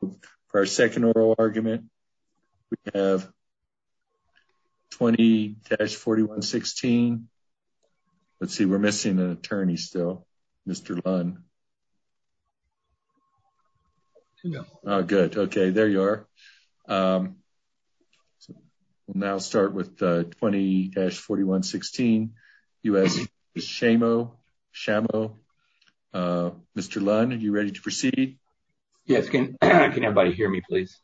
for our second oral argument. We have 20-4116. Let's see, we're missing an attorney still, Mr. Lunn. No. Good. Okay, there you are. We'll now start with 20-4116, U.S. v. Shamo. Shamo, Mr. Lunn, are you ready to proceed? Yes. Can everybody hear me, please?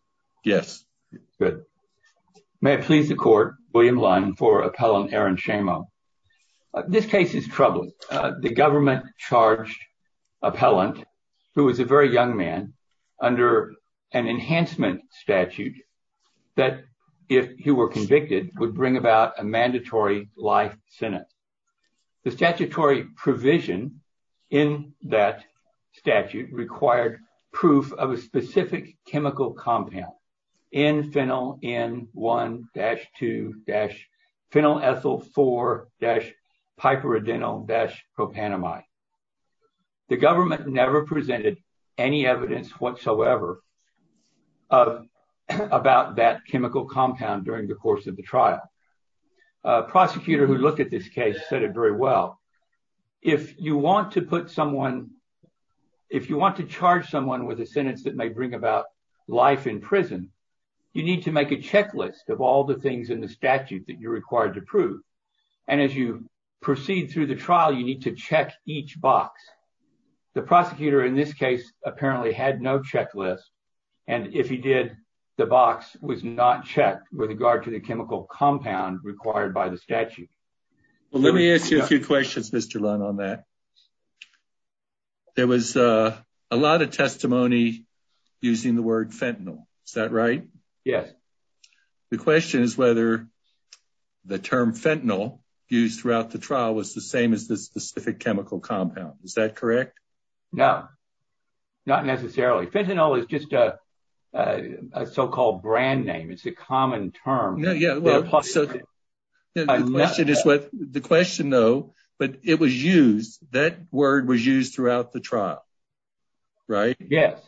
Yes. Good. May it please the court, William Lunn for appellant Aaron Shamo. This case is troubling. The government charged appellant, who is a very young man, under an enhancement statute that, if he were convicted, would bring about a mandatory life sentence. The statutory provision in that statute required proof of a specific chemical compound, N-Phenyl-N-1-2-Phenyl-Ethyl-4-Piperidinyl-Propanamide. The government never presented any evidence whatsoever about that chemical compound during the trial. A prosecutor who looked at this case said it very well. If you want to put someone, if you want to charge someone with a sentence that may bring about life in prison, you need to make a checklist of all the things in the statute that you're required to prove. And as you proceed through the trial, you need to check each box. The prosecutor in this case apparently had no checklist. And if he did, the box was not checked with regard to the chemical compound required by the statute. Well, let me ask you a few questions, Mr. Lunn, on that. There was a lot of testimony using the word fentanyl. Is that right? Yes. The question is whether the term fentanyl used throughout the trial was the same as the specific chemical compound. Is that correct? No, not necessarily. Fentanyl is just a so-called brand name. It's a common term. The question though, but it was used, that word was used throughout the trial, right? Yes.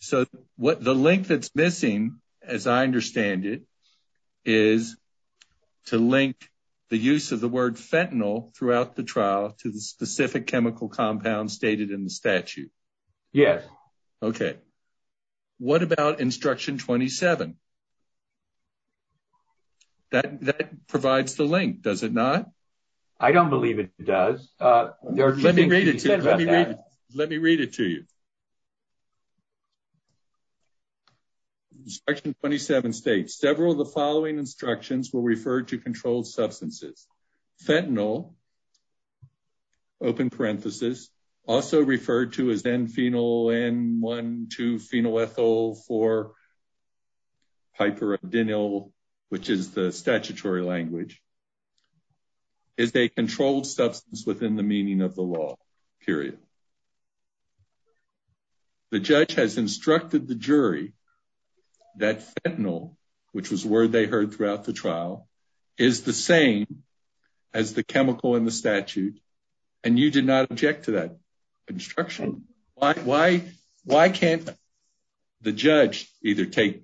So the link that's missing, as I understand it, is to link the use of the word fentanyl throughout the trial to the specific chemical compound stated in the statute. Yes. Okay. What about instruction 27? That provides the link, does it not? I don't believe it does. Let me read it to you. Section 27 states, several of the following instructions will refer to controlled substances. Fentanyl, open parenthesis, also referred to as N-phenyl-N-1-2-phenolethyl-4-hyperadenyl, which is the statutory language, is a controlled substance within the meaning of the law, period. The judge has instructed the jury that fentanyl, which was a word they heard throughout the trial, is the same as the chemical in the statute, and you did not object to that instruction? Why can't the judge either take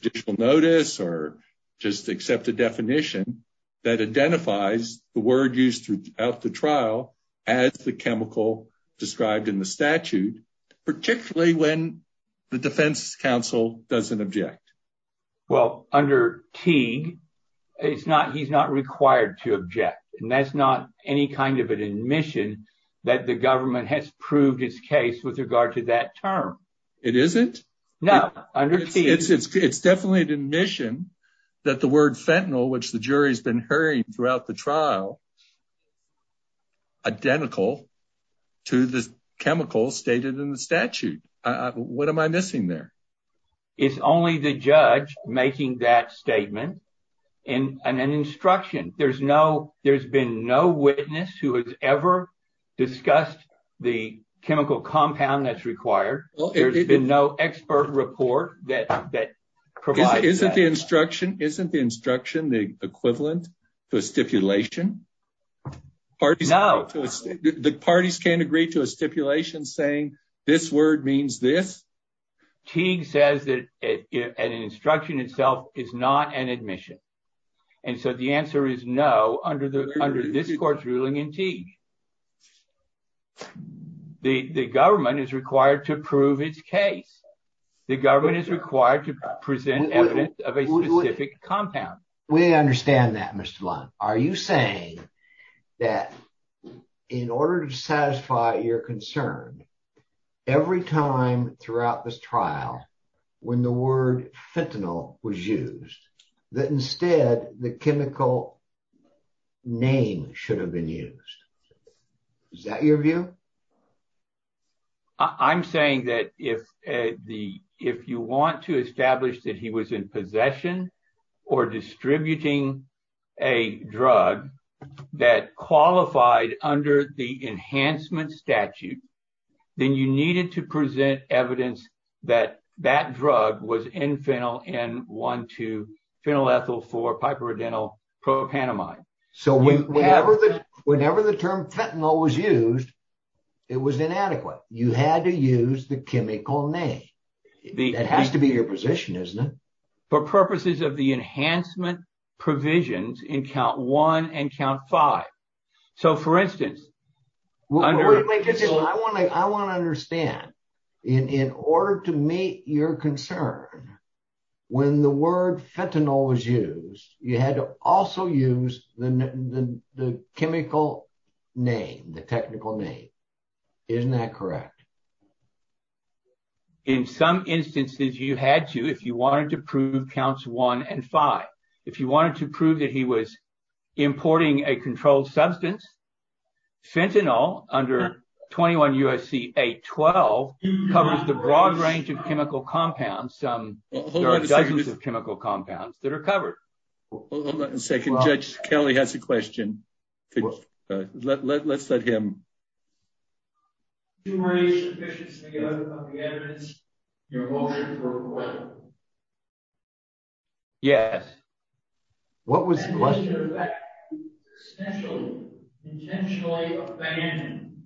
judicial notice or just accept a definition that identifies the word used throughout the trial as the chemical described in the statute, particularly when the defense counsel doesn't object? Well, under Teague, he's not required to object, and that's not any kind of an admission that the government has proved its case with regard to that term. It isn't? No. It's definitely an admission that the word fentanyl, which the jury's been throughout the trial, is identical to the chemical stated in the statute. What am I missing there? It's only the judge making that statement and an instruction. There's been no witness who has ever discussed the chemical compound that's required. There's been no expert report that provides that. Isn't the instruction the equivalent to a stipulation? No. The parties can't agree to a stipulation saying this word means this? Teague says that an instruction itself is not an admission, and so the answer is no under this court's ruling in Teague. The government is required to prove its case. The government is required to present evidence of a specific compound. We understand that, Mr. Lund. Are you saying that in order to satisfy your concern, every time throughout this trial when the word fentanyl was used, that instead the chemical name should have been used? Is that your view? I'm saying that if you want to or distributing a drug that qualified under the enhancement statute, then you needed to present evidence that that drug was N-phenyl-N-1-2-phenylethyl-4-piperidinyl-propanamide. Whenever the term fentanyl was used, it was inadequate. You had to use the chemical name. That has to be your position, isn't it? For purposes of the enhancement provisions in count one and count five. So for instance... I want to understand. In order to meet your concern, when the word fentanyl was used, you had to also use the chemical name, the technical name. Isn't that correct? In some instances, you had to if you wanted to prove counts one and five. If you wanted to prove that he was importing a controlled substance, fentanyl under 21 U.S.C. 812 covers the broad range of chemical compounds. There are dozens of chemical compounds that are You raised sufficiently of the evidence. Your motion for a quorum. Yes. What was the question? Intentionally abandoned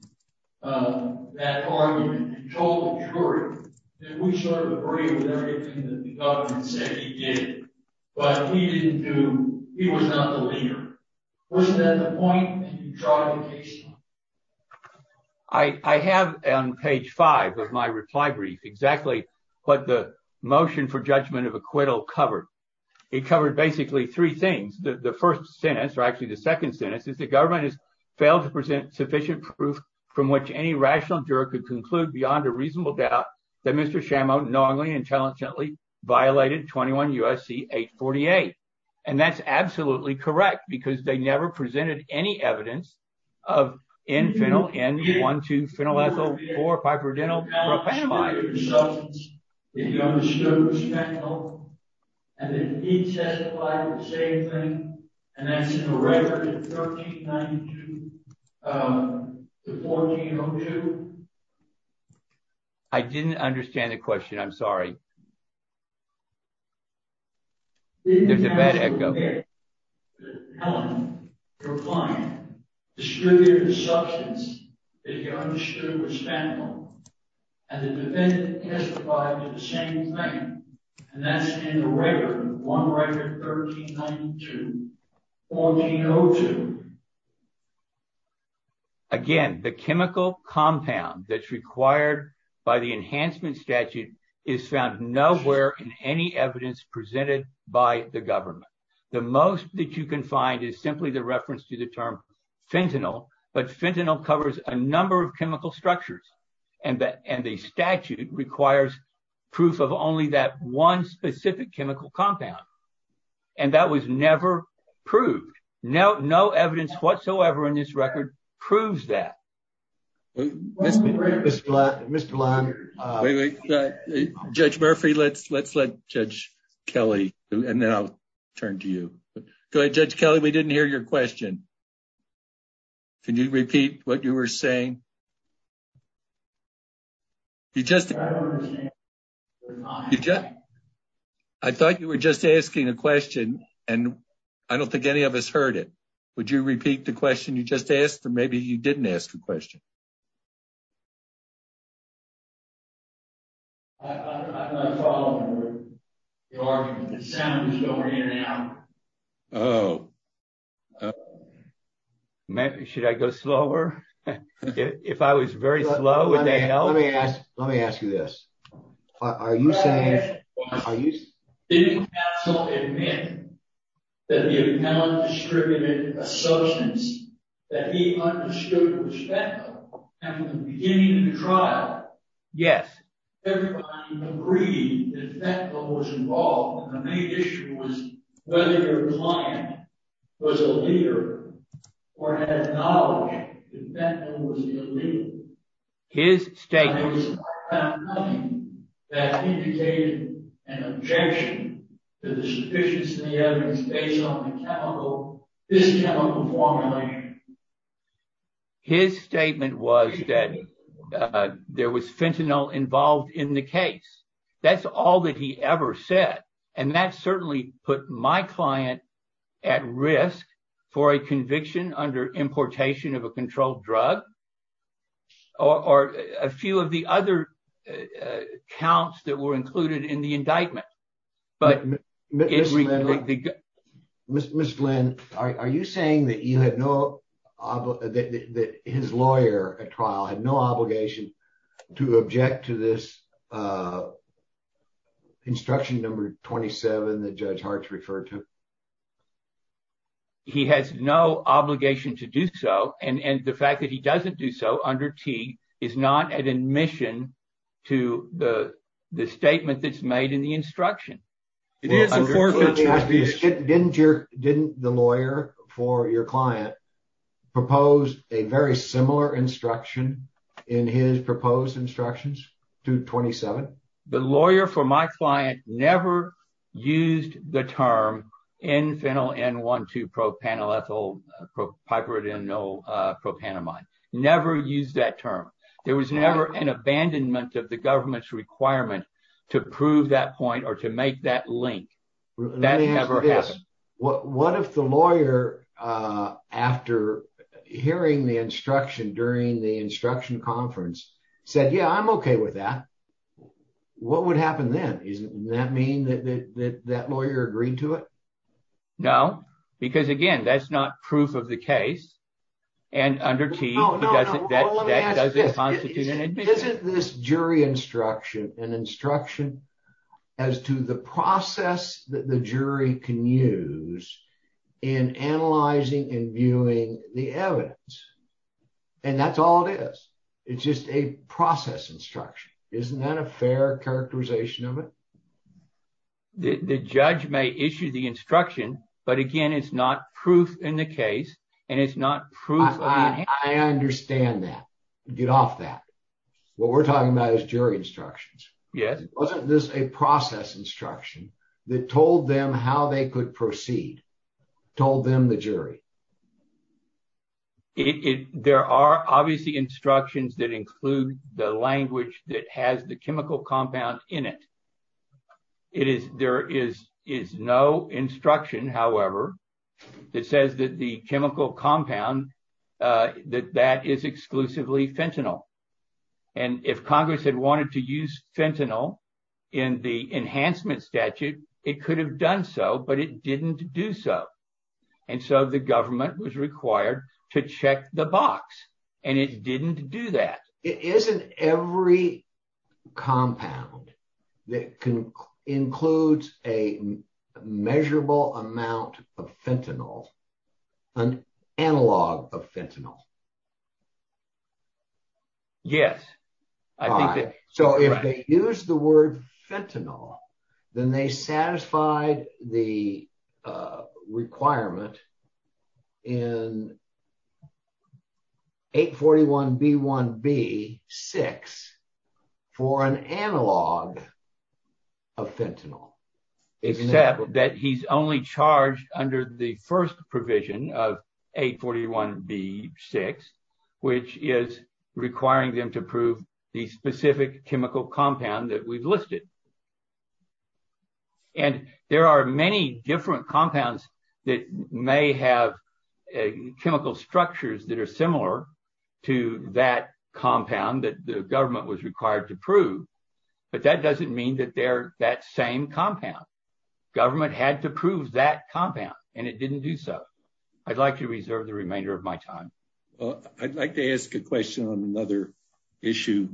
that argument. You told the jury that we sort of agree with everything that the government said he did, but he didn't do... he was not the leader. Wasn't that the point? I have on page five of my reply brief exactly what the motion for judgment of acquittal covered. It covered basically three things. The first sentence, or actually the second sentence, is the government has failed to present sufficient proof from which any rational juror could conclude beyond a reasonable doubt that Mr. Chamot knowingly and intelligently violated 21 U.S.C. 848. And that's absolutely correct because they never presented any evidence of N-phenyl-N-1-2-phenyl ethyl-4-piperidinyl-propanamide. I didn't understand the question. I'm sorry. There's a bad echo. Again, the chemical compound that's required by the enhancement statute is found nowhere in any evidence presented by the government. The most that you can find is simply the reference to the term fentanyl, but fentanyl covers a number of chemical structures. And the statute requires proof of only that one specific chemical compound. And that was never proved. No evidence whatsoever in this record proves that. Mr. Lund, Judge Murphy, let's let Judge Kelly and then I'll turn to you. Go ahead, Judge Kelly, we didn't hear your question. Can you repeat what you were saying? I thought you were just asking a question and I don't think any of us heard it. Would you repeat the question you just asked or maybe you didn't ask a question? I'm not following the argument. The sound was going in and out. Should I go slower? If I was very slow, would that help? Let me ask you this. Are you saying... Yes. His statement... His statement was that there was fentanyl involved in the case. That's all that he ever said. And that certainly put my client at risk for a conviction under importation of a controlled drug or a few of the other counts that were included in the indictment. Ms. Flynn, are you saying that his lawyer at trial had no obligation to object to this instruction number 27 that Judge Hartz referred to? No. He has no obligation to do so. And the fact that he doesn't do so under T is not an admission to the statement that's made in the instruction. Didn't the lawyer for your client propose a very similar instruction in his proposed instructions to 27? The lawyer for my client never used the term N-phenyl-N-1-2-propanolethylpiperidinylpropanamide. Never used that term. There was never an abandonment of the government's requirement to prove that point or to make that link. That never happened. What if the lawyer, after hearing the instruction during the instruction conference, said, yeah, I'm okay with that. What would happen then? Doesn't that mean that that lawyer agreed to it? No. Because again, that's not proof of the case. And under T, that doesn't constitute an admission. Isn't this jury instruction an instruction as to the process that the jury can use in analyzing and viewing the evidence? And that's all it is. It's just a process instruction. Isn't that a fair characterization of it? The judge may issue the instruction, but again, it's not proof in the case and it's not proof. I understand that. Get off that. What we're talking about is jury instructions. Yes. Wasn't this a process instruction that told them how they could proceed, told them the jury? There are obviously instructions that include the language that has the chemical compound in it. There is no instruction, however, that says that the chemical compound, that that is exclusively fentanyl. And if Congress had wanted to use fentanyl in the enhancement statute, it could have done so, but it didn't do so. And so the government was required to check the box and it didn't do that. It isn't every compound that includes a measurable amount of fentanyl, an analog of fentanyl. Yes. So if they use the word fentanyl, then they satisfied the requirement in 841B1B6 for an analog of fentanyl. Except that he's only charged under the first provision of which is requiring them to prove the specific chemical compound that we've listed. And there are many different compounds that may have chemical structures that are similar to that compound that the government was required to prove. But that doesn't mean that they're that same compound. Government had to prove that compound and it didn't do so. I'd like to reserve the remainder of my time. Well, I'd like to ask a question on another issue,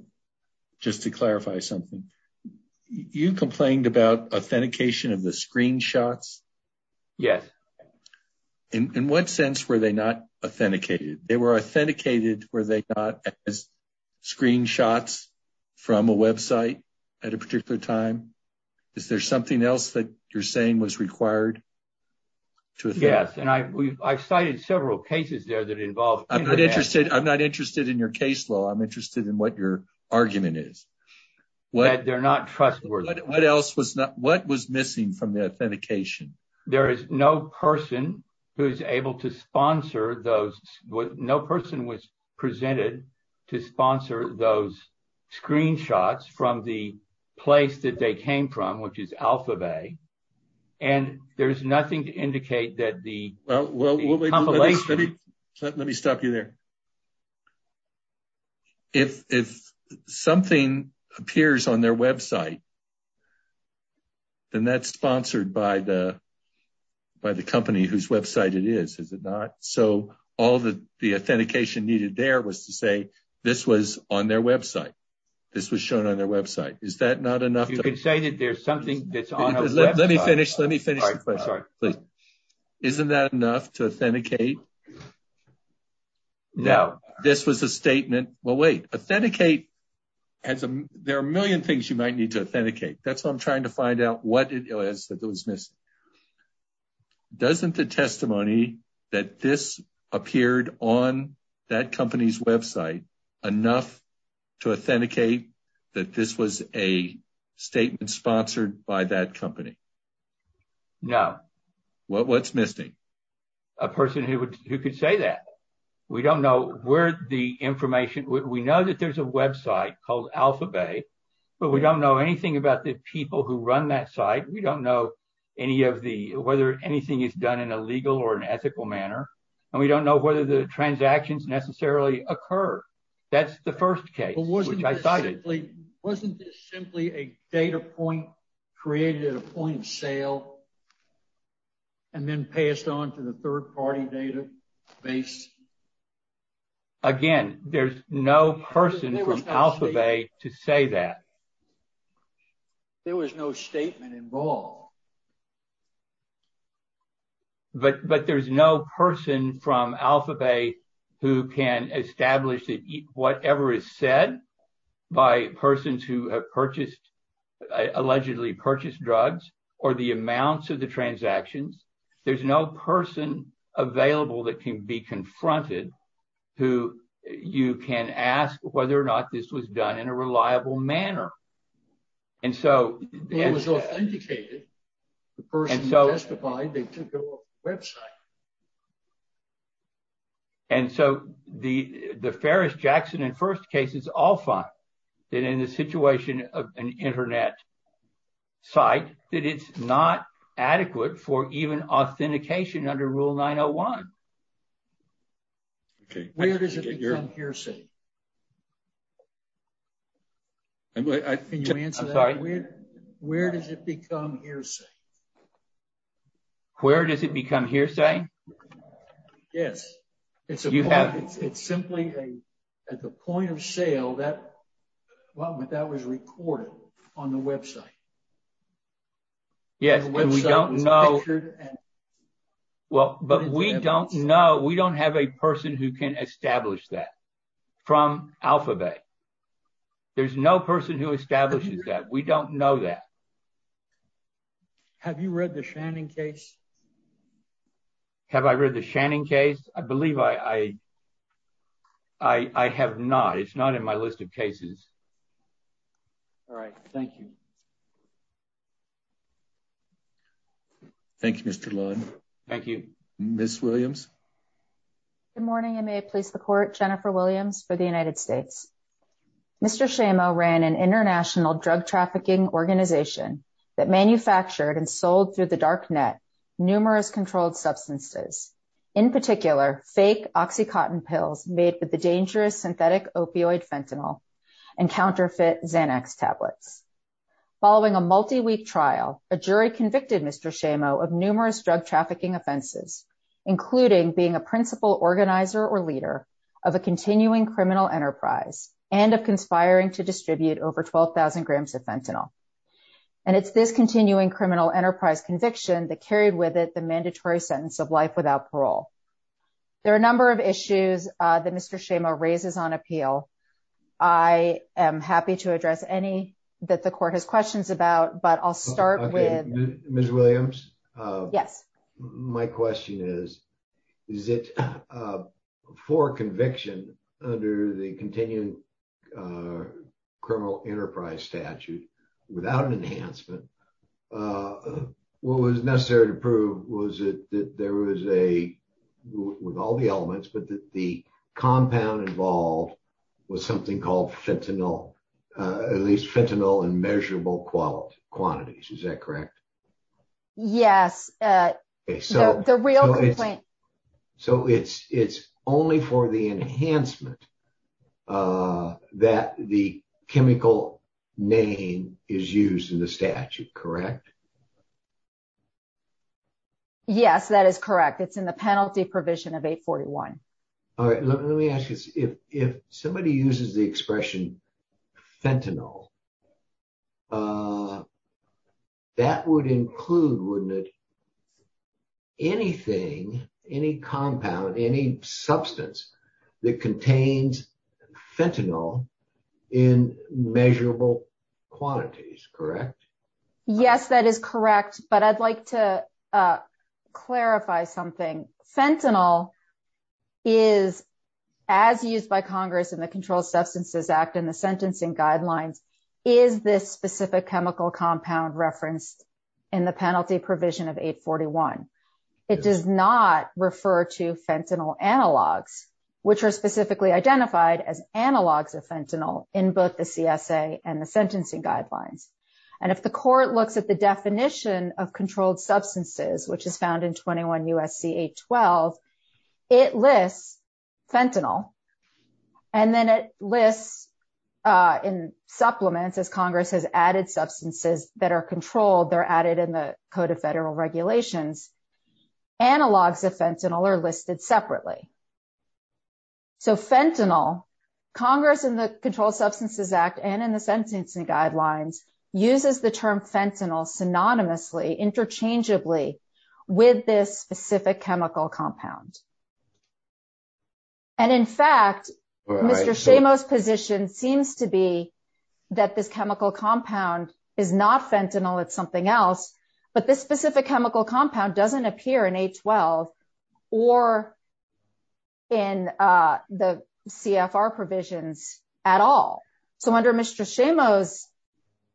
just to clarify something. You complained about authentication of the screenshots. Yes. In what sense were they not authenticated? They were authenticated, were they not as screenshots from a website at a particular time? Is there something else that you're saying was required? Yes. And I've cited several cases there that involved... I'm not interested in your case law. I'm interested in what your argument is. They're not trustworthy. What was missing from the authentication? There is no person who's able to sponsor those... No person was presented to sponsor those screenshots. There is nothing to indicate that the compilation... Let me stop you there. If something appears on their website, then that's sponsored by the company whose website it is, is it not? So all the authentication needed there was to say this was on their website. This was shown on their website. Is that not enough? Let me finish the question, please. Isn't that enough to authenticate? No. This was a statement... Well, wait. Authenticate... There are a million things you might need to authenticate. That's what I'm trying to find out. What is it that was missing? Doesn't the testimony that this appeared on that company's website enough to authenticate that this was a statement sponsored by that company? No. What's missing? A person who could say that. We don't know where the information... We know that there's a website called AlphaBay, but we don't know anything about the people who run that site. We don't know whether anything is done in a legal or an ethical manner, and we don't know whether the transactions necessarily occur. That's the first case. Wasn't this simply a data point created at a point of sale and then passed on to the third party database? Again, there's no person from AlphaBay to say that. There was no statement involved. But there's no person from AlphaBay who can establish that whatever is said by persons who have allegedly purchased drugs or the amounts of the transactions, there's no person available that can be confronted who you can ask whether or not this was done in a reliable manner. It was authenticated. The person testified, they took over the website. And so the Ferris, Jackson, and First cases all find that in the situation of an internet site, that it's not adequate for even authentication under Rule 901. Where does it become hearsay? Where does it become hearsay? Where does it become hearsay? Yes, it's simply at the point of sale that was recorded on the website. Yes, but we don't know. We don't have a person who can establish that from AlphaBay. There's no person who establishes that. We don't know that. Have you read the Shannon case? Have I read the Shannon case? I believe I have not. It's not in my list of cases. All right. Thank you. Thank you, Mr. Lund. Thank you. Ms. Williams. Good morning. I may please the court. Jennifer Williams for the United States. Mr. Shamo ran an international drug trafficking organization that manufactured and sold through the dark net numerous controlled substances, in particular, fake OxyContin pills made with the dangerous synthetic opioid fentanyl and counterfeit Xanax tablets. Following a multi-week trial, a jury convicted Mr. Shamo of numerous drug trafficking offenses, including being a and of conspiring to distribute over 12,000 grams of fentanyl. And it's this continuing criminal enterprise conviction that carried with it the mandatory sentence of life without parole. There are a number of issues that Mr. Shamo raises on appeal. I am happy to address any that the court has questions about, but I'll start with... Okay. Ms. Williams. Yes. My question is, is it for conviction under the continuing criminal enterprise statute without an enhancement, what was necessary to prove was that there was a, with all the elements, but that the compound involved was something called fentanyl, at least fentanyl in measurable quantities. Is that correct? Yes. So it's only for the enhancement that the chemical name is used in the statute, correct? Yes, that is correct. It's in the penalty provision of 841. All right. Let me ask you this. If somebody uses the expression fentanyl, that would include, wouldn't it, anything, any compound, any substance that contains fentanyl in measurable quantities, correct? Yes, that is correct. But I'd like to clarify something. Fentanyl is, as used by Congress in the Controlled Substances Act and the sentencing guidelines, is this specific chemical compound referenced in the penalty provision of 841. It does not refer to fentanyl analogs, which are specifically identified as analogs of fentanyl in both the CSA and the sentencing guidelines. And if the court looks at the definition of controlled substances, which is found in 21 U.S.C. 812, it lists fentanyl. And then it lists in supplements, as Congress has added substances that are controlled, they're added in the Code of Federal Regulations, analogs of fentanyl are listed separately. So fentanyl, Congress in the Controlled Substances Act and in the sentencing guidelines, uses the term fentanyl synonymously, interchangeably, with this specific chemical compound. And in fact, Mr. Shamo's position seems to be that this chemical compound is not fentanyl, it's something else, but this specific chemical compound doesn't appear in 812 or in the CFR provisions at all. So under Mr. Shamo's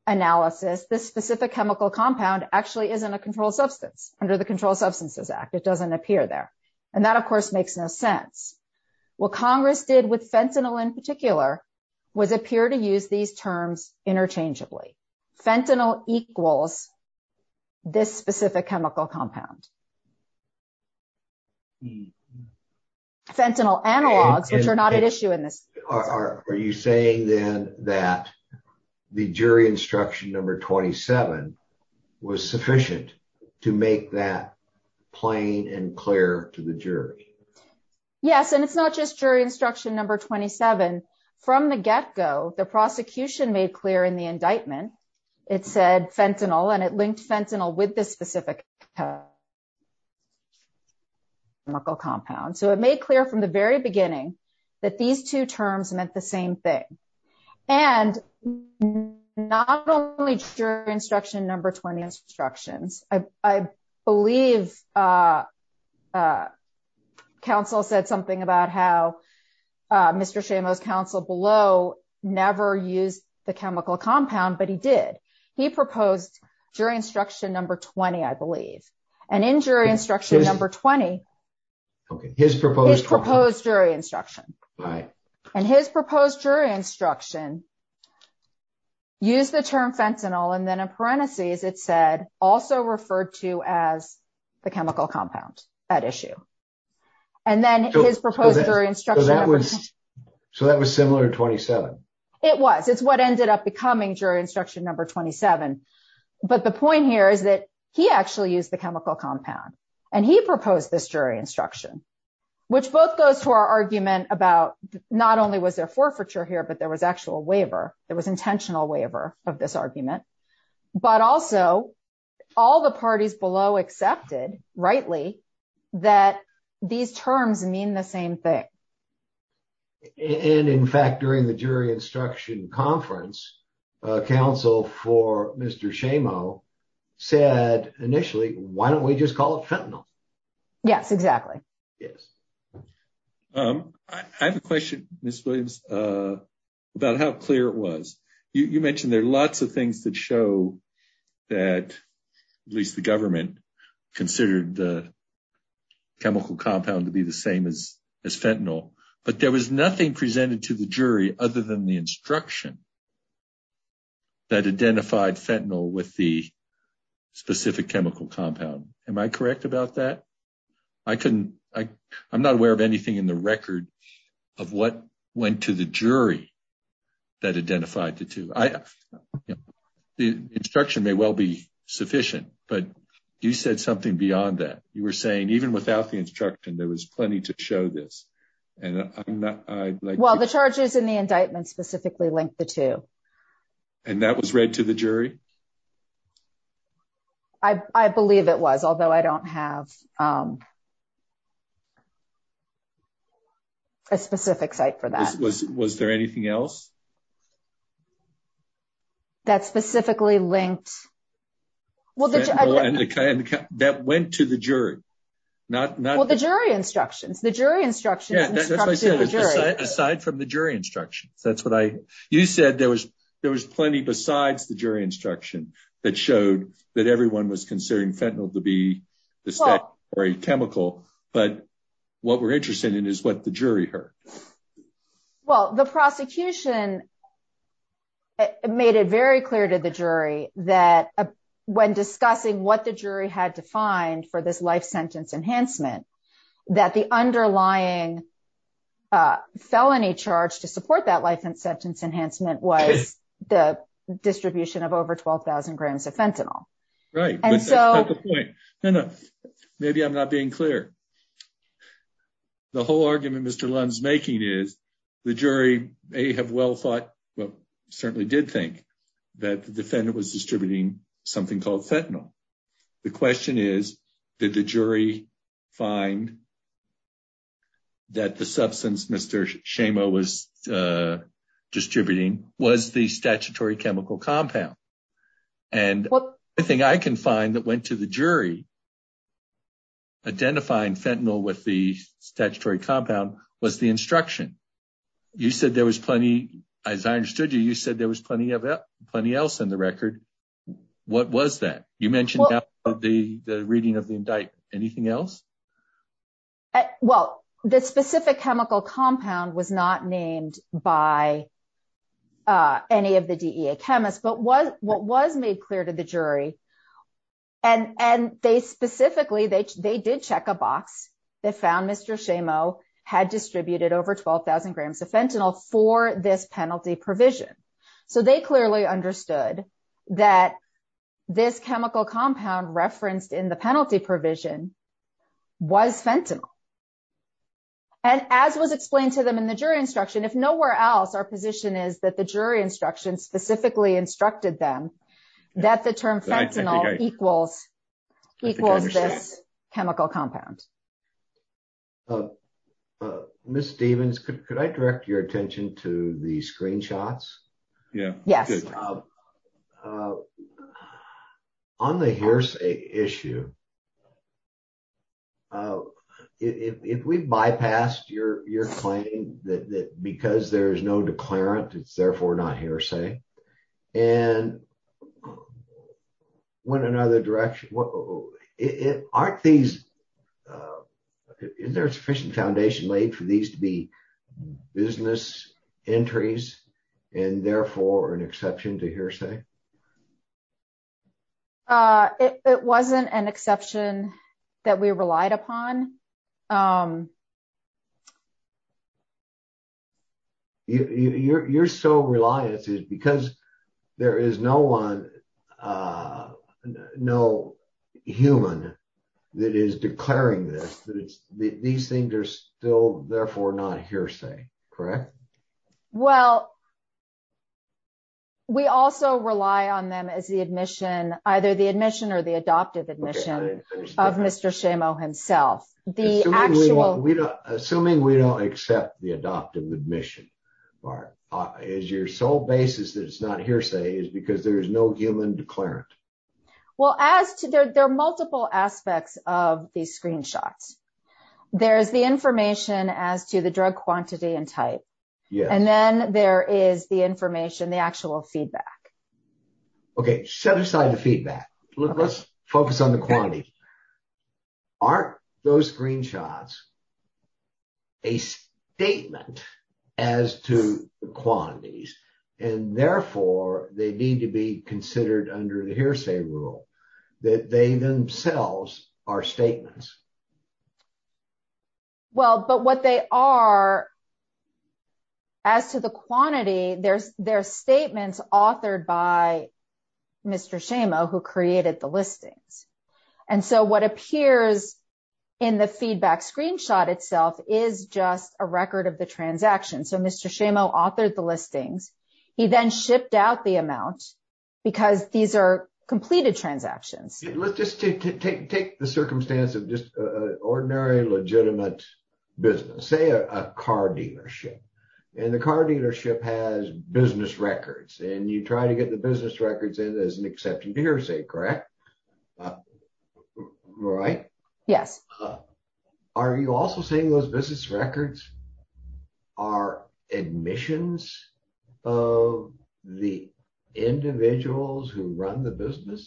analysis, this specific chemical compound actually isn't a controlled substance under the Controlled Substances Act. It doesn't appear there. And that, of course, makes no sense. What Congress did with fentanyl in particular was appear to use these terms interchangeably. Fentanyl equals this specific chemical compound. Fentanyl analogs, which are not an issue in this. Are you saying then that the jury instruction number 27 was sufficient to make that plain and clear to the jury? Yes. And it's not just jury instruction number 27. From the get-go, the prosecution made clear in the indictment, it said fentanyl, and it linked fentanyl with this specific chemical compound. So it made clear from the very beginning that these two terms meant the same thing. And not only jury instruction number 20 instructions, I believe counsel said something about how Mr. Shamo's counsel below never used the chemical compound, but he did. He proposed jury instruction number 20, I believe. And in jury instruction number 20, his proposed jury instruction. And his proposed jury instruction used the term fentanyl. And then in parentheses, it said, also referred to as the chemical compound at issue. And then his proposed jury instruction number 20. It was. It's what ended up becoming jury instruction number 27. But the point here is that he actually used the chemical compound. And he proposed this jury instruction, which both goes to our argument about not only was there forfeiture here, but there was actual waiver. There was intentional waiver of this argument. But also, all the parties below accepted rightly that these terms mean the same thing. And in fact, during the jury instruction conference, counsel for Mr. Shamo said initially, why don't we just call it fentanyl? Yes, exactly. Yes. I have a question, Ms. Williams, about how clear it was. You mentioned there are lots of things that show that at least the government considered the chemical compound to be the same as but there was nothing presented to the jury other than the instruction that identified fentanyl with the specific chemical compound. Am I correct about that? I couldn't, I'm not aware of anything in the record of what went to the jury that identified the two. The instruction may well be sufficient, but you said something beyond that. You were and I'm not... Well, the charges in the indictment specifically linked the two. And that was read to the jury? I believe it was, although I don't have a specific site for that. Was there anything else? That specifically linked... That went to the jury, not... Well, the jury instructions, the jury instructions... Yeah, that's what I said, aside from the jury instructions. You said there was plenty besides the jury instruction that showed that everyone was considering fentanyl to be the same chemical, but what we're interested in is what the jury heard. Well, the prosecution made it very clear to the jury that when discussing what the jury had to find for this life sentence enhancement, that the underlying felony charge to support that life sentence enhancement was the distribution of over 12,000 grams of fentanyl. Right. And so... That's the point. No, no, maybe I'm not being clear. The whole argument Mr. Lund's making is the jury may have well thought, well, certainly did think that the defendant was distributing something called fentanyl. The question is, did the jury find that the substance Mr. Shamo was distributing was the statutory chemical compound? And the thing I can find that went to the jury identifying fentanyl with the statutory compound was the instruction. You said there was plenty, as I understood you, you said there was plenty of that, plenty else in the record. What was that? You mentioned the reading of the indictment. Anything else? Well, the specific chemical compound was not named by any of the DEA chemists, but what was made clear to the jury, and they specifically, they did check a box that found Mr. Shamo had distributed over 12,000 grams of fentanyl for this penalty provision. So they clearly understood that this chemical compound referenced in the penalty provision was fentanyl. And as was explained to them in the jury instruction, if nowhere else, our position is that the jury instruction specifically instructed them that the term fentanyl equals this chemical compound. Ms. Stephens, could I direct your attention to the screenshots? Yeah. Yes. On the hearsay issue, if we bypassed your claim that because there is no declarant, it's therefore not hearsay, and went another direction, aren't these, is there a sufficient foundation laid for these to be business entries, and therefore an exception to hearsay? It wasn't an exception that we relied upon. You're so reliant because there is no one, no human that is declaring this, that these things are still therefore not hearsay, correct? Well, we also rely on them as the admission, either the admission or the adoptive admission of Mr. Shamo himself. Assuming we don't accept the adoptive admission, is your sole basis that it's not hearsay is because there is no human declarant? Well, there are multiple aspects of these screenshots. There's the information as to the drug quantity and type. And then there is the information, the actual feedback. Okay. Set aside the feedback. Let's focus on the quantity. Aren't those screenshots a statement as to quantities, and therefore they need to be considered under the hearsay rule, that they themselves are statements? Well, but what they are, as to the quantity, they're statements authored by Mr. Shamo, who created the listings. And so what appears in the feedback screenshot itself is just a record of the transaction. So Mr. Shamo authored the listings. He then shipped out the amount because these are completed transactions. Let's just take the circumstance of just a ordinary legitimate business, say a car dealership. And the car dealership has business records. And you try to get the business records in as an accepted hearsay, correct? Right? Yes. Are you also saying those business records are admissions of the individuals who run the defendant?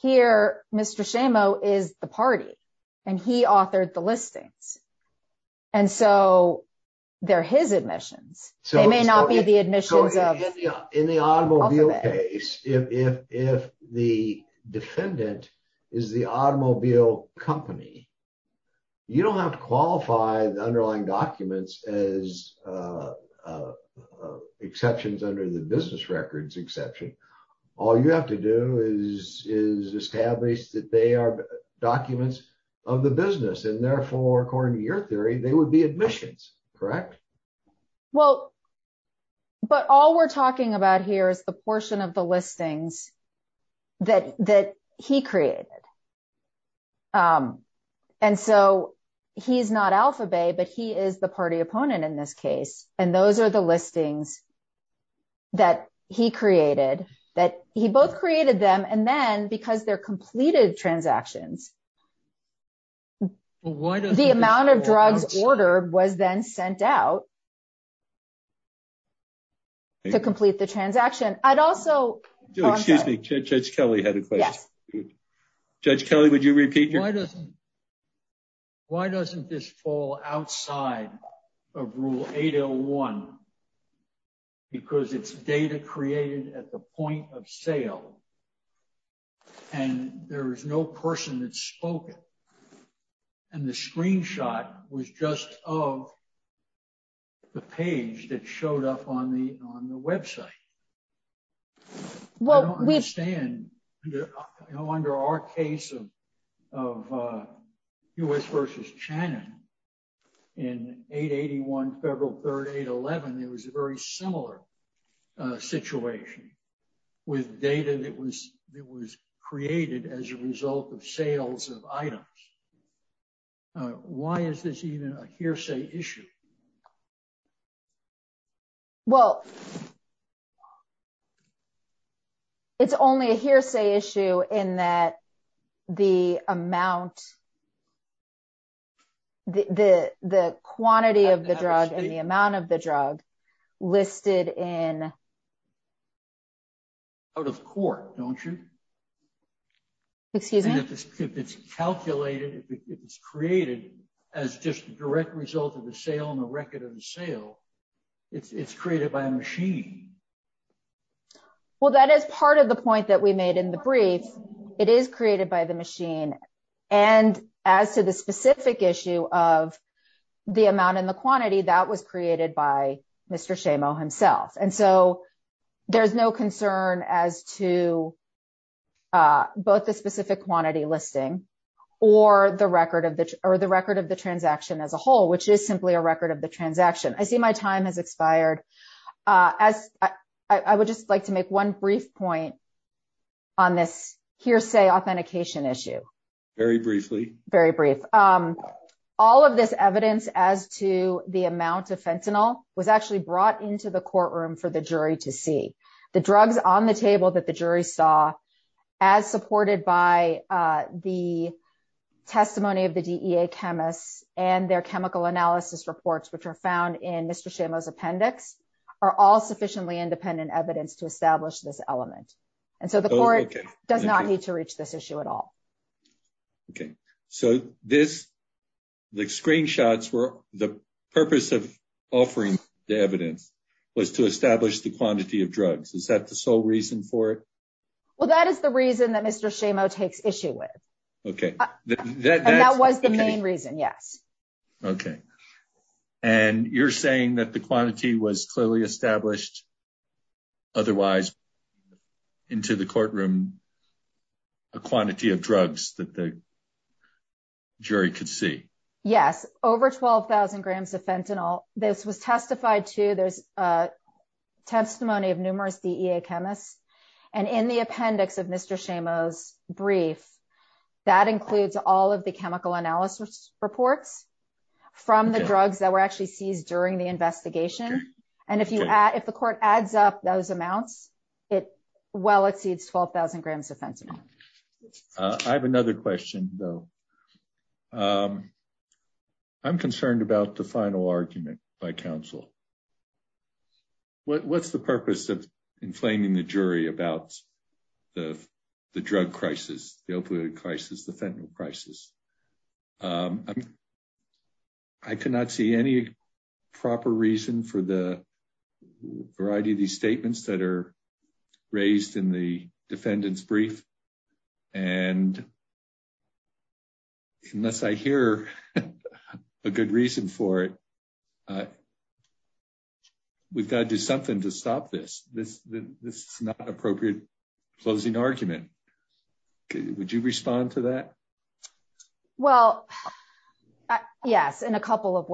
Here, Mr. Shamo is the party, and he authored the listings. And so they're his admissions. They may not be the admissions of- In the automobile case, if the defendant is the automobile company, you don't have to qualify the underlying documents as exceptions under the business records exception. All you have to do is establish that they are documents of the business. And therefore, according to your theory, they would be admissions, correct? Well, but all we're talking about here is the portion of the listings that he created. And so he's not Alphabet, but he is the party opponent in this case. And those are the listings that he created, that he both created them. And then because they're completed transactions, the amount of drugs ordered was then sent out to complete the transaction. I'd also- Excuse me, Judge Kelly had a question. Judge Kelly, would you repeat your- Why doesn't this fall outside of Rule 801 because it's data created at the point of sale and there is no person that's spoken? And the screenshot was just of the page that showed up on the website. Well, we- I don't understand. Under our case of U.S. versus Channon in 881, February 3rd, 811, it was a very similar situation with data that was created as a result of sales of items. All right. Why is this even a hearsay issue? Well, it's only a hearsay issue in that the amount, the quantity of the drug and the amount of the drug listed in- Out of court, don't you? Excuse me? If it's calculated, if it's created as just a direct result of the sale and the record of the sale, it's created by a machine. Well, that is part of the point that we made in the brief. It is created by the machine. And as to the specific issue of the amount and the quantity, that was created by Mr. Shamo himself. And so there's no concern as to both the specific quantity listing or the record of the transaction as a whole, which is simply a record of the transaction. I see my time has expired. As I would just like to make one brief point on this hearsay authentication issue. Very briefly. Very brief. All of this evidence as to the amount of fentanyl was actually brought into the courtroom for the jury to see. The drugs on the table that the jury saw, as supported by the testimony of the DEA chemists and their chemical analysis reports, which are found in Mr. Shamo's appendix, are all sufficiently independent evidence to establish this element. And so the court does not need to reach this issue at all. Okay. So this, the screenshots were the purpose of offering the evidence was to establish the quantity of drugs. Is that the sole reason for it? Well, that is the reason that Mr. Shamo takes issue with. Okay. That was the main reason. Yes. Okay. And you're saying that the quantity was that the jury could see. Yes. Over 12,000 grams of fentanyl. This was testified to there's a testimony of numerous DEA chemists and in the appendix of Mr. Shamo's brief, that includes all of the chemical analysis reports from the drugs that were actually seized during the investigation. And if you add, if the court adds up those amounts, it well exceeds 12,000 grams of fentanyl. I have another question though. I'm concerned about the final argument by counsel. What's the purpose of inflaming the jury about the drug crisis, the opioid crisis, the fentanyl crisis? I could not see any proper reason for the variety of these statements that are raised in the defendant's brief. And unless I hear a good reason for it, we've got to do something to stop this. This is not appropriate closing argument. Would you respond to that? Well, yes. In a couple of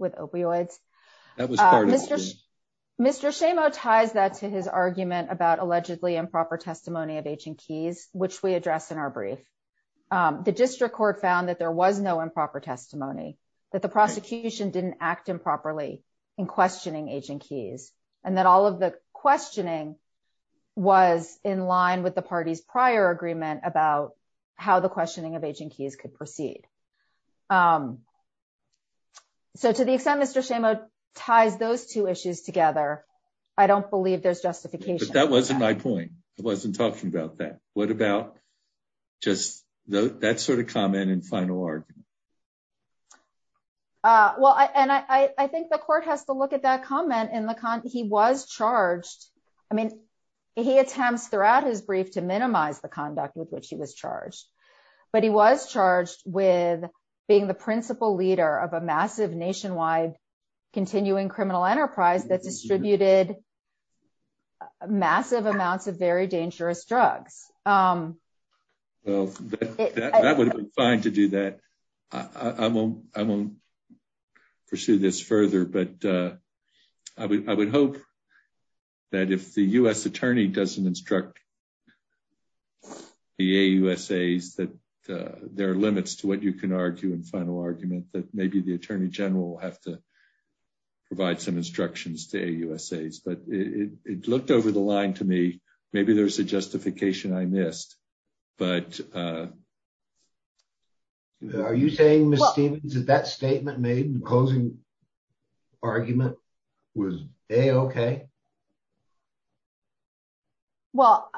with opioids. Mr. Shamo ties that to his argument about allegedly improper testimony of Agent Keys, which we address in our brief. The district court found that there was no improper testimony, that the prosecution didn't act improperly in questioning Agent Keys. And that all of the questioning was in line with the party's prior agreement about how the questioning of Agent Keys was conducted. So to the extent Mr. Shamo ties those two issues together, I don't believe there's justification. But that wasn't my point. I wasn't talking about that. What about just that sort of comment and final argument? Well, and I think the court has to look at that comment. He was charged. I mean, he attempts throughout his brief to minimize the conduct with which he was charged. But he was charged with being the principal leader of a massive nationwide continuing criminal enterprise that distributed massive amounts of very dangerous drugs. Well, that would be fine to do that. I won't pursue this further. But I would hope that if the U.S. attorney doesn't instruct the AUSAs that there are limits to what you can argue in final argument that maybe the attorney general will have to provide some instructions to AUSAs. But it looked over the line to me. Maybe there's a justification I missed. But are you saying, Ms. Stevens, that that statement made closing argument was A-OK? Well,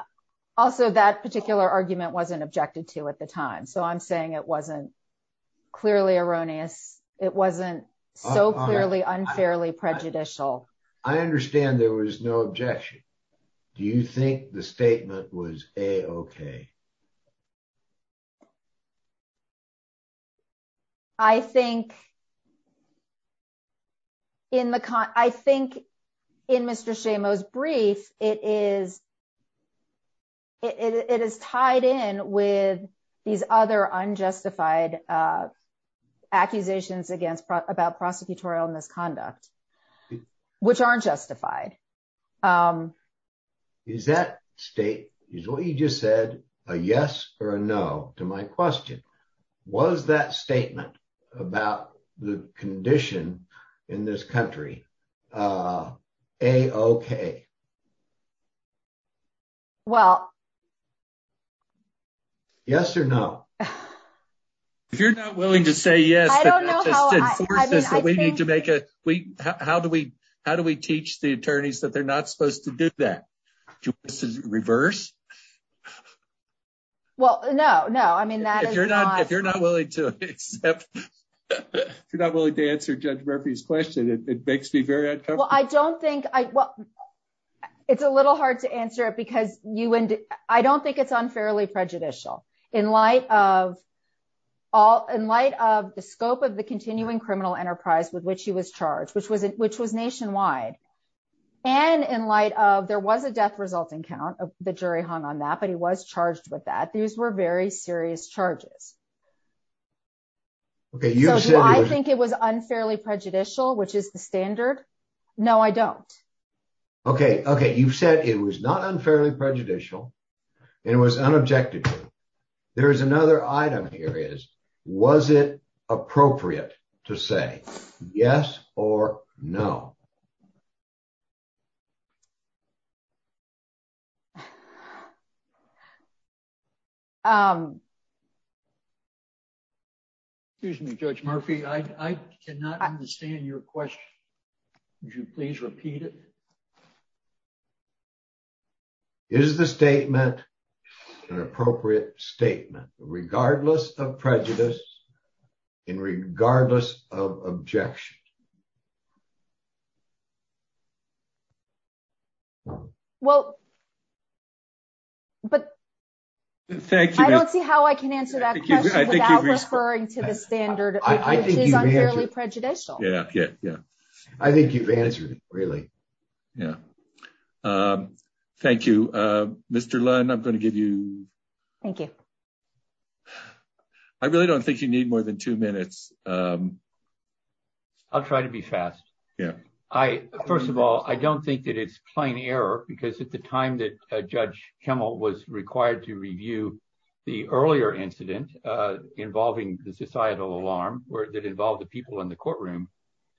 also, that particular argument wasn't objected to at the time. So I'm saying it wasn't clearly erroneous. It wasn't so clearly unfairly prejudicial. I understand there was no objection. Do you think the statement was A-OK? I think in Mr. Shamo's brief, it is tied in with these other unjustified accusations against about prosecutorial misconduct, which aren't justified. Um, is that state is what you just said a yes or a no to my question? Was that statement about the condition in this country? A-OK? Well, yes or no? If you're not willing to say yes, I don't know how we need to make it. How do we how do we teach the attorneys that they're not supposed to do that? Do we reverse? Well, no, no. I mean, if you're not if you're not willing to accept, if you're not willing to answer Judge Murphy's question, it makes me very uncomfortable. Well, I don't think I well, it's a little hard to answer it because you and I don't think it's unfairly prejudicial in light of all in light of the scope of the continuing criminal enterprise with which he was charged, which was which was nationwide. And in light of there was a death resulting count, the jury hung on that, but he was charged with that. These were very serious charges. OK, you said I think it was unfairly prejudicial, which is the standard. No, I don't. OK, OK. You've said it was not unfairly prejudicial and it was unobjective. There is another item here is was it appropriate to say yes or no? Excuse me, Judge Murphy, I cannot understand your question. Would you please repeat it? Is the statement an appropriate statement regardless of prejudice and regardless of objection? Well. But thank you. I don't see how I can answer that. Thank you. I think you're referring to the standard. I think it's unfairly prejudicial. Yeah, yeah, yeah. I think you've answered it really. Yeah. Thank you, Mr. Lund. I'm going to give you. Thank you. I really don't think you need more than two minutes. I'll try to be fast. Yeah, I first of all, I don't think that it's plain error because at the time that Judge Kimmel was required to review the earlier incident involving the societal alarm that involved the people in the courtroom,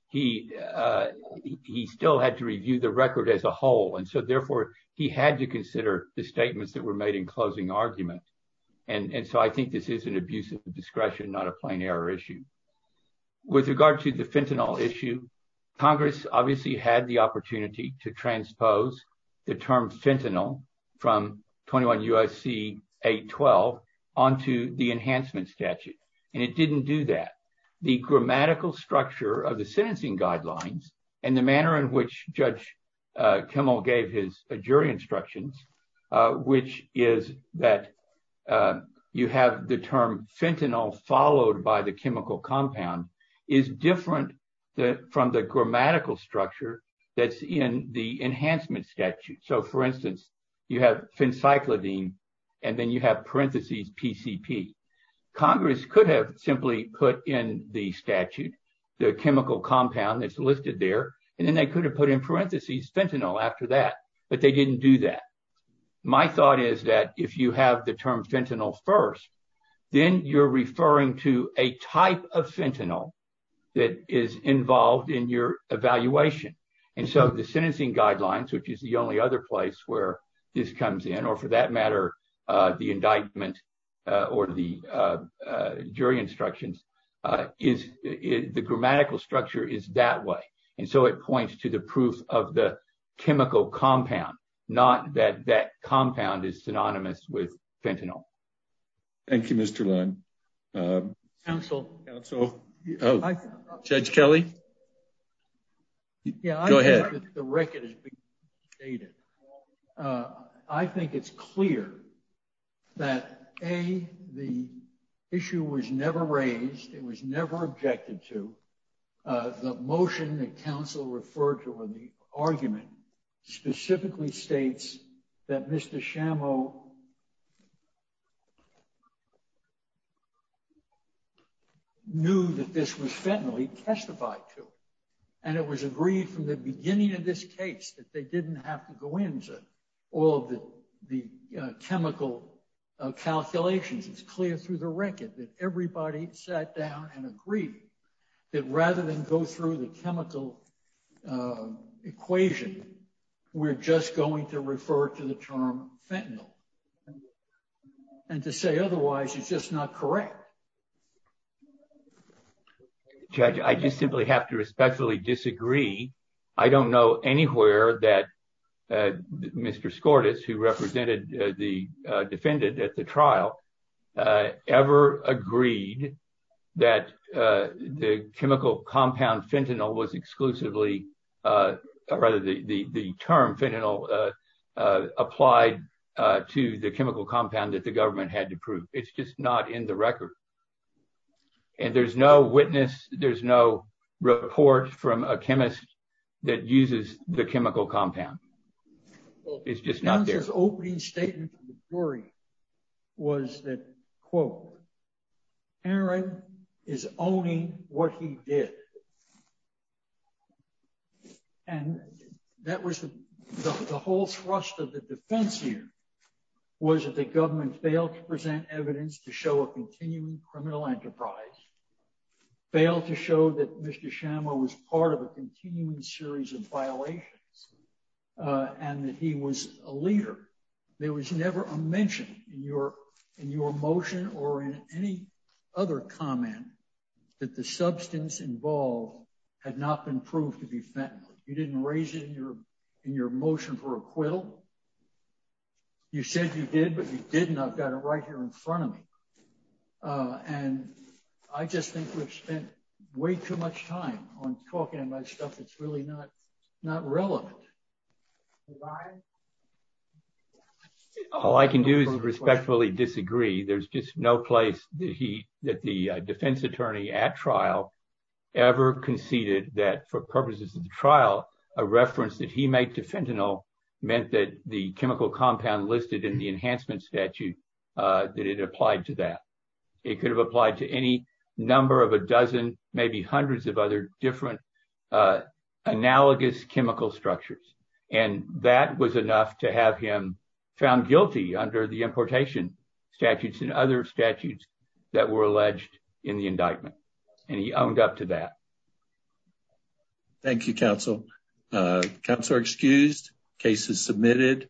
he still had to review the record as a whole. And so therefore, he had to consider the statements that were made in closing arguments. And so I think this is an abuse of discretion, not a plain error issue. With regard to the fentanyl issue, Congress obviously had the opportunity to transpose the term fentanyl from 21 U.S.C. 812 onto the enhancement statute, and it didn't do that. The grammatical structure of the sentencing guidelines and the manner in which Judge Kimmel gave his jury instructions, which is that you have the term fentanyl followed by the chemical compound, is different from the grammatical structure that's in the enhancement statute. So for instance, you have fencyclidine and then you have parentheses PCP. Congress could have simply put in the statute the chemical compound that's listed there, and then they could have put in parentheses fentanyl after that, but they didn't do that. My thought is that if you have the term fentanyl first, then you're referring to a type of fentanyl that is involved in your evaluation. And so the sentencing guidelines, which is the other place where this comes in, or for that matter, the indictment or the jury instructions, the grammatical structure is that way. And so it points to the proof of the chemical compound, not that that compound is synonymous with fentanyl. Thank you, Mr. Leung. Counsel? Judge Kelly? Yeah, I think the record has been stated. I think it's clear that, A, the issue was never raised, it was never objected to. The motion that counsel referred to in the argument specifically states that Mr. Shamo knew that this was fentanyl, he testified to, and it was agreed from the beginning of this case that they didn't have to go into all of the chemical calculations. It's clear through the record that everybody sat down and agreed that rather than go through the chemical equation, we're just going to to the term fentanyl. And to say otherwise is just not correct. Judge, I just simply have to respectfully disagree. I don't know anywhere that Mr. Skordas, who represented the defendant at the trial, ever agreed that the chemical compound fentanyl was applied to the chemical compound that the government had to prove. It's just not in the record. And there's no witness, there's no report from a chemist that uses the chemical compound. It's just not there. Counsel's opening statement to the jury was that, quote, Aaron is owning what he did. And that was the whole thrust of the defense here was that the government failed to present evidence to show a continuing criminal enterprise, failed to show that Mr. Shamo was part of a continuing series of violations, and that he was a leader. There was never a mention in your motion or in any other comment that the substance involved had not been proved to be fentanyl. You didn't raise it in your motion for acquittal. You said you did, but you didn't. I've got it right here in front of me. And I just think we've spent way too much time on talking about stuff that's really not relevant. All I can do is respectfully disagree. There's just no place that the defense attorney at trial ever conceded that for purposes of the trial, a reference that he made to fentanyl meant that the chemical compound listed in the enhancement statute, that it applied to that. It could have applied to any number of a dozen, maybe hundreds of other different analogous chemical structures. And that was enough to have him found guilty under the importation statutes and other statutes that were alleged in the indictment. And he owned up to that. Thank you, counsel. Counselor excused. Case is submitted.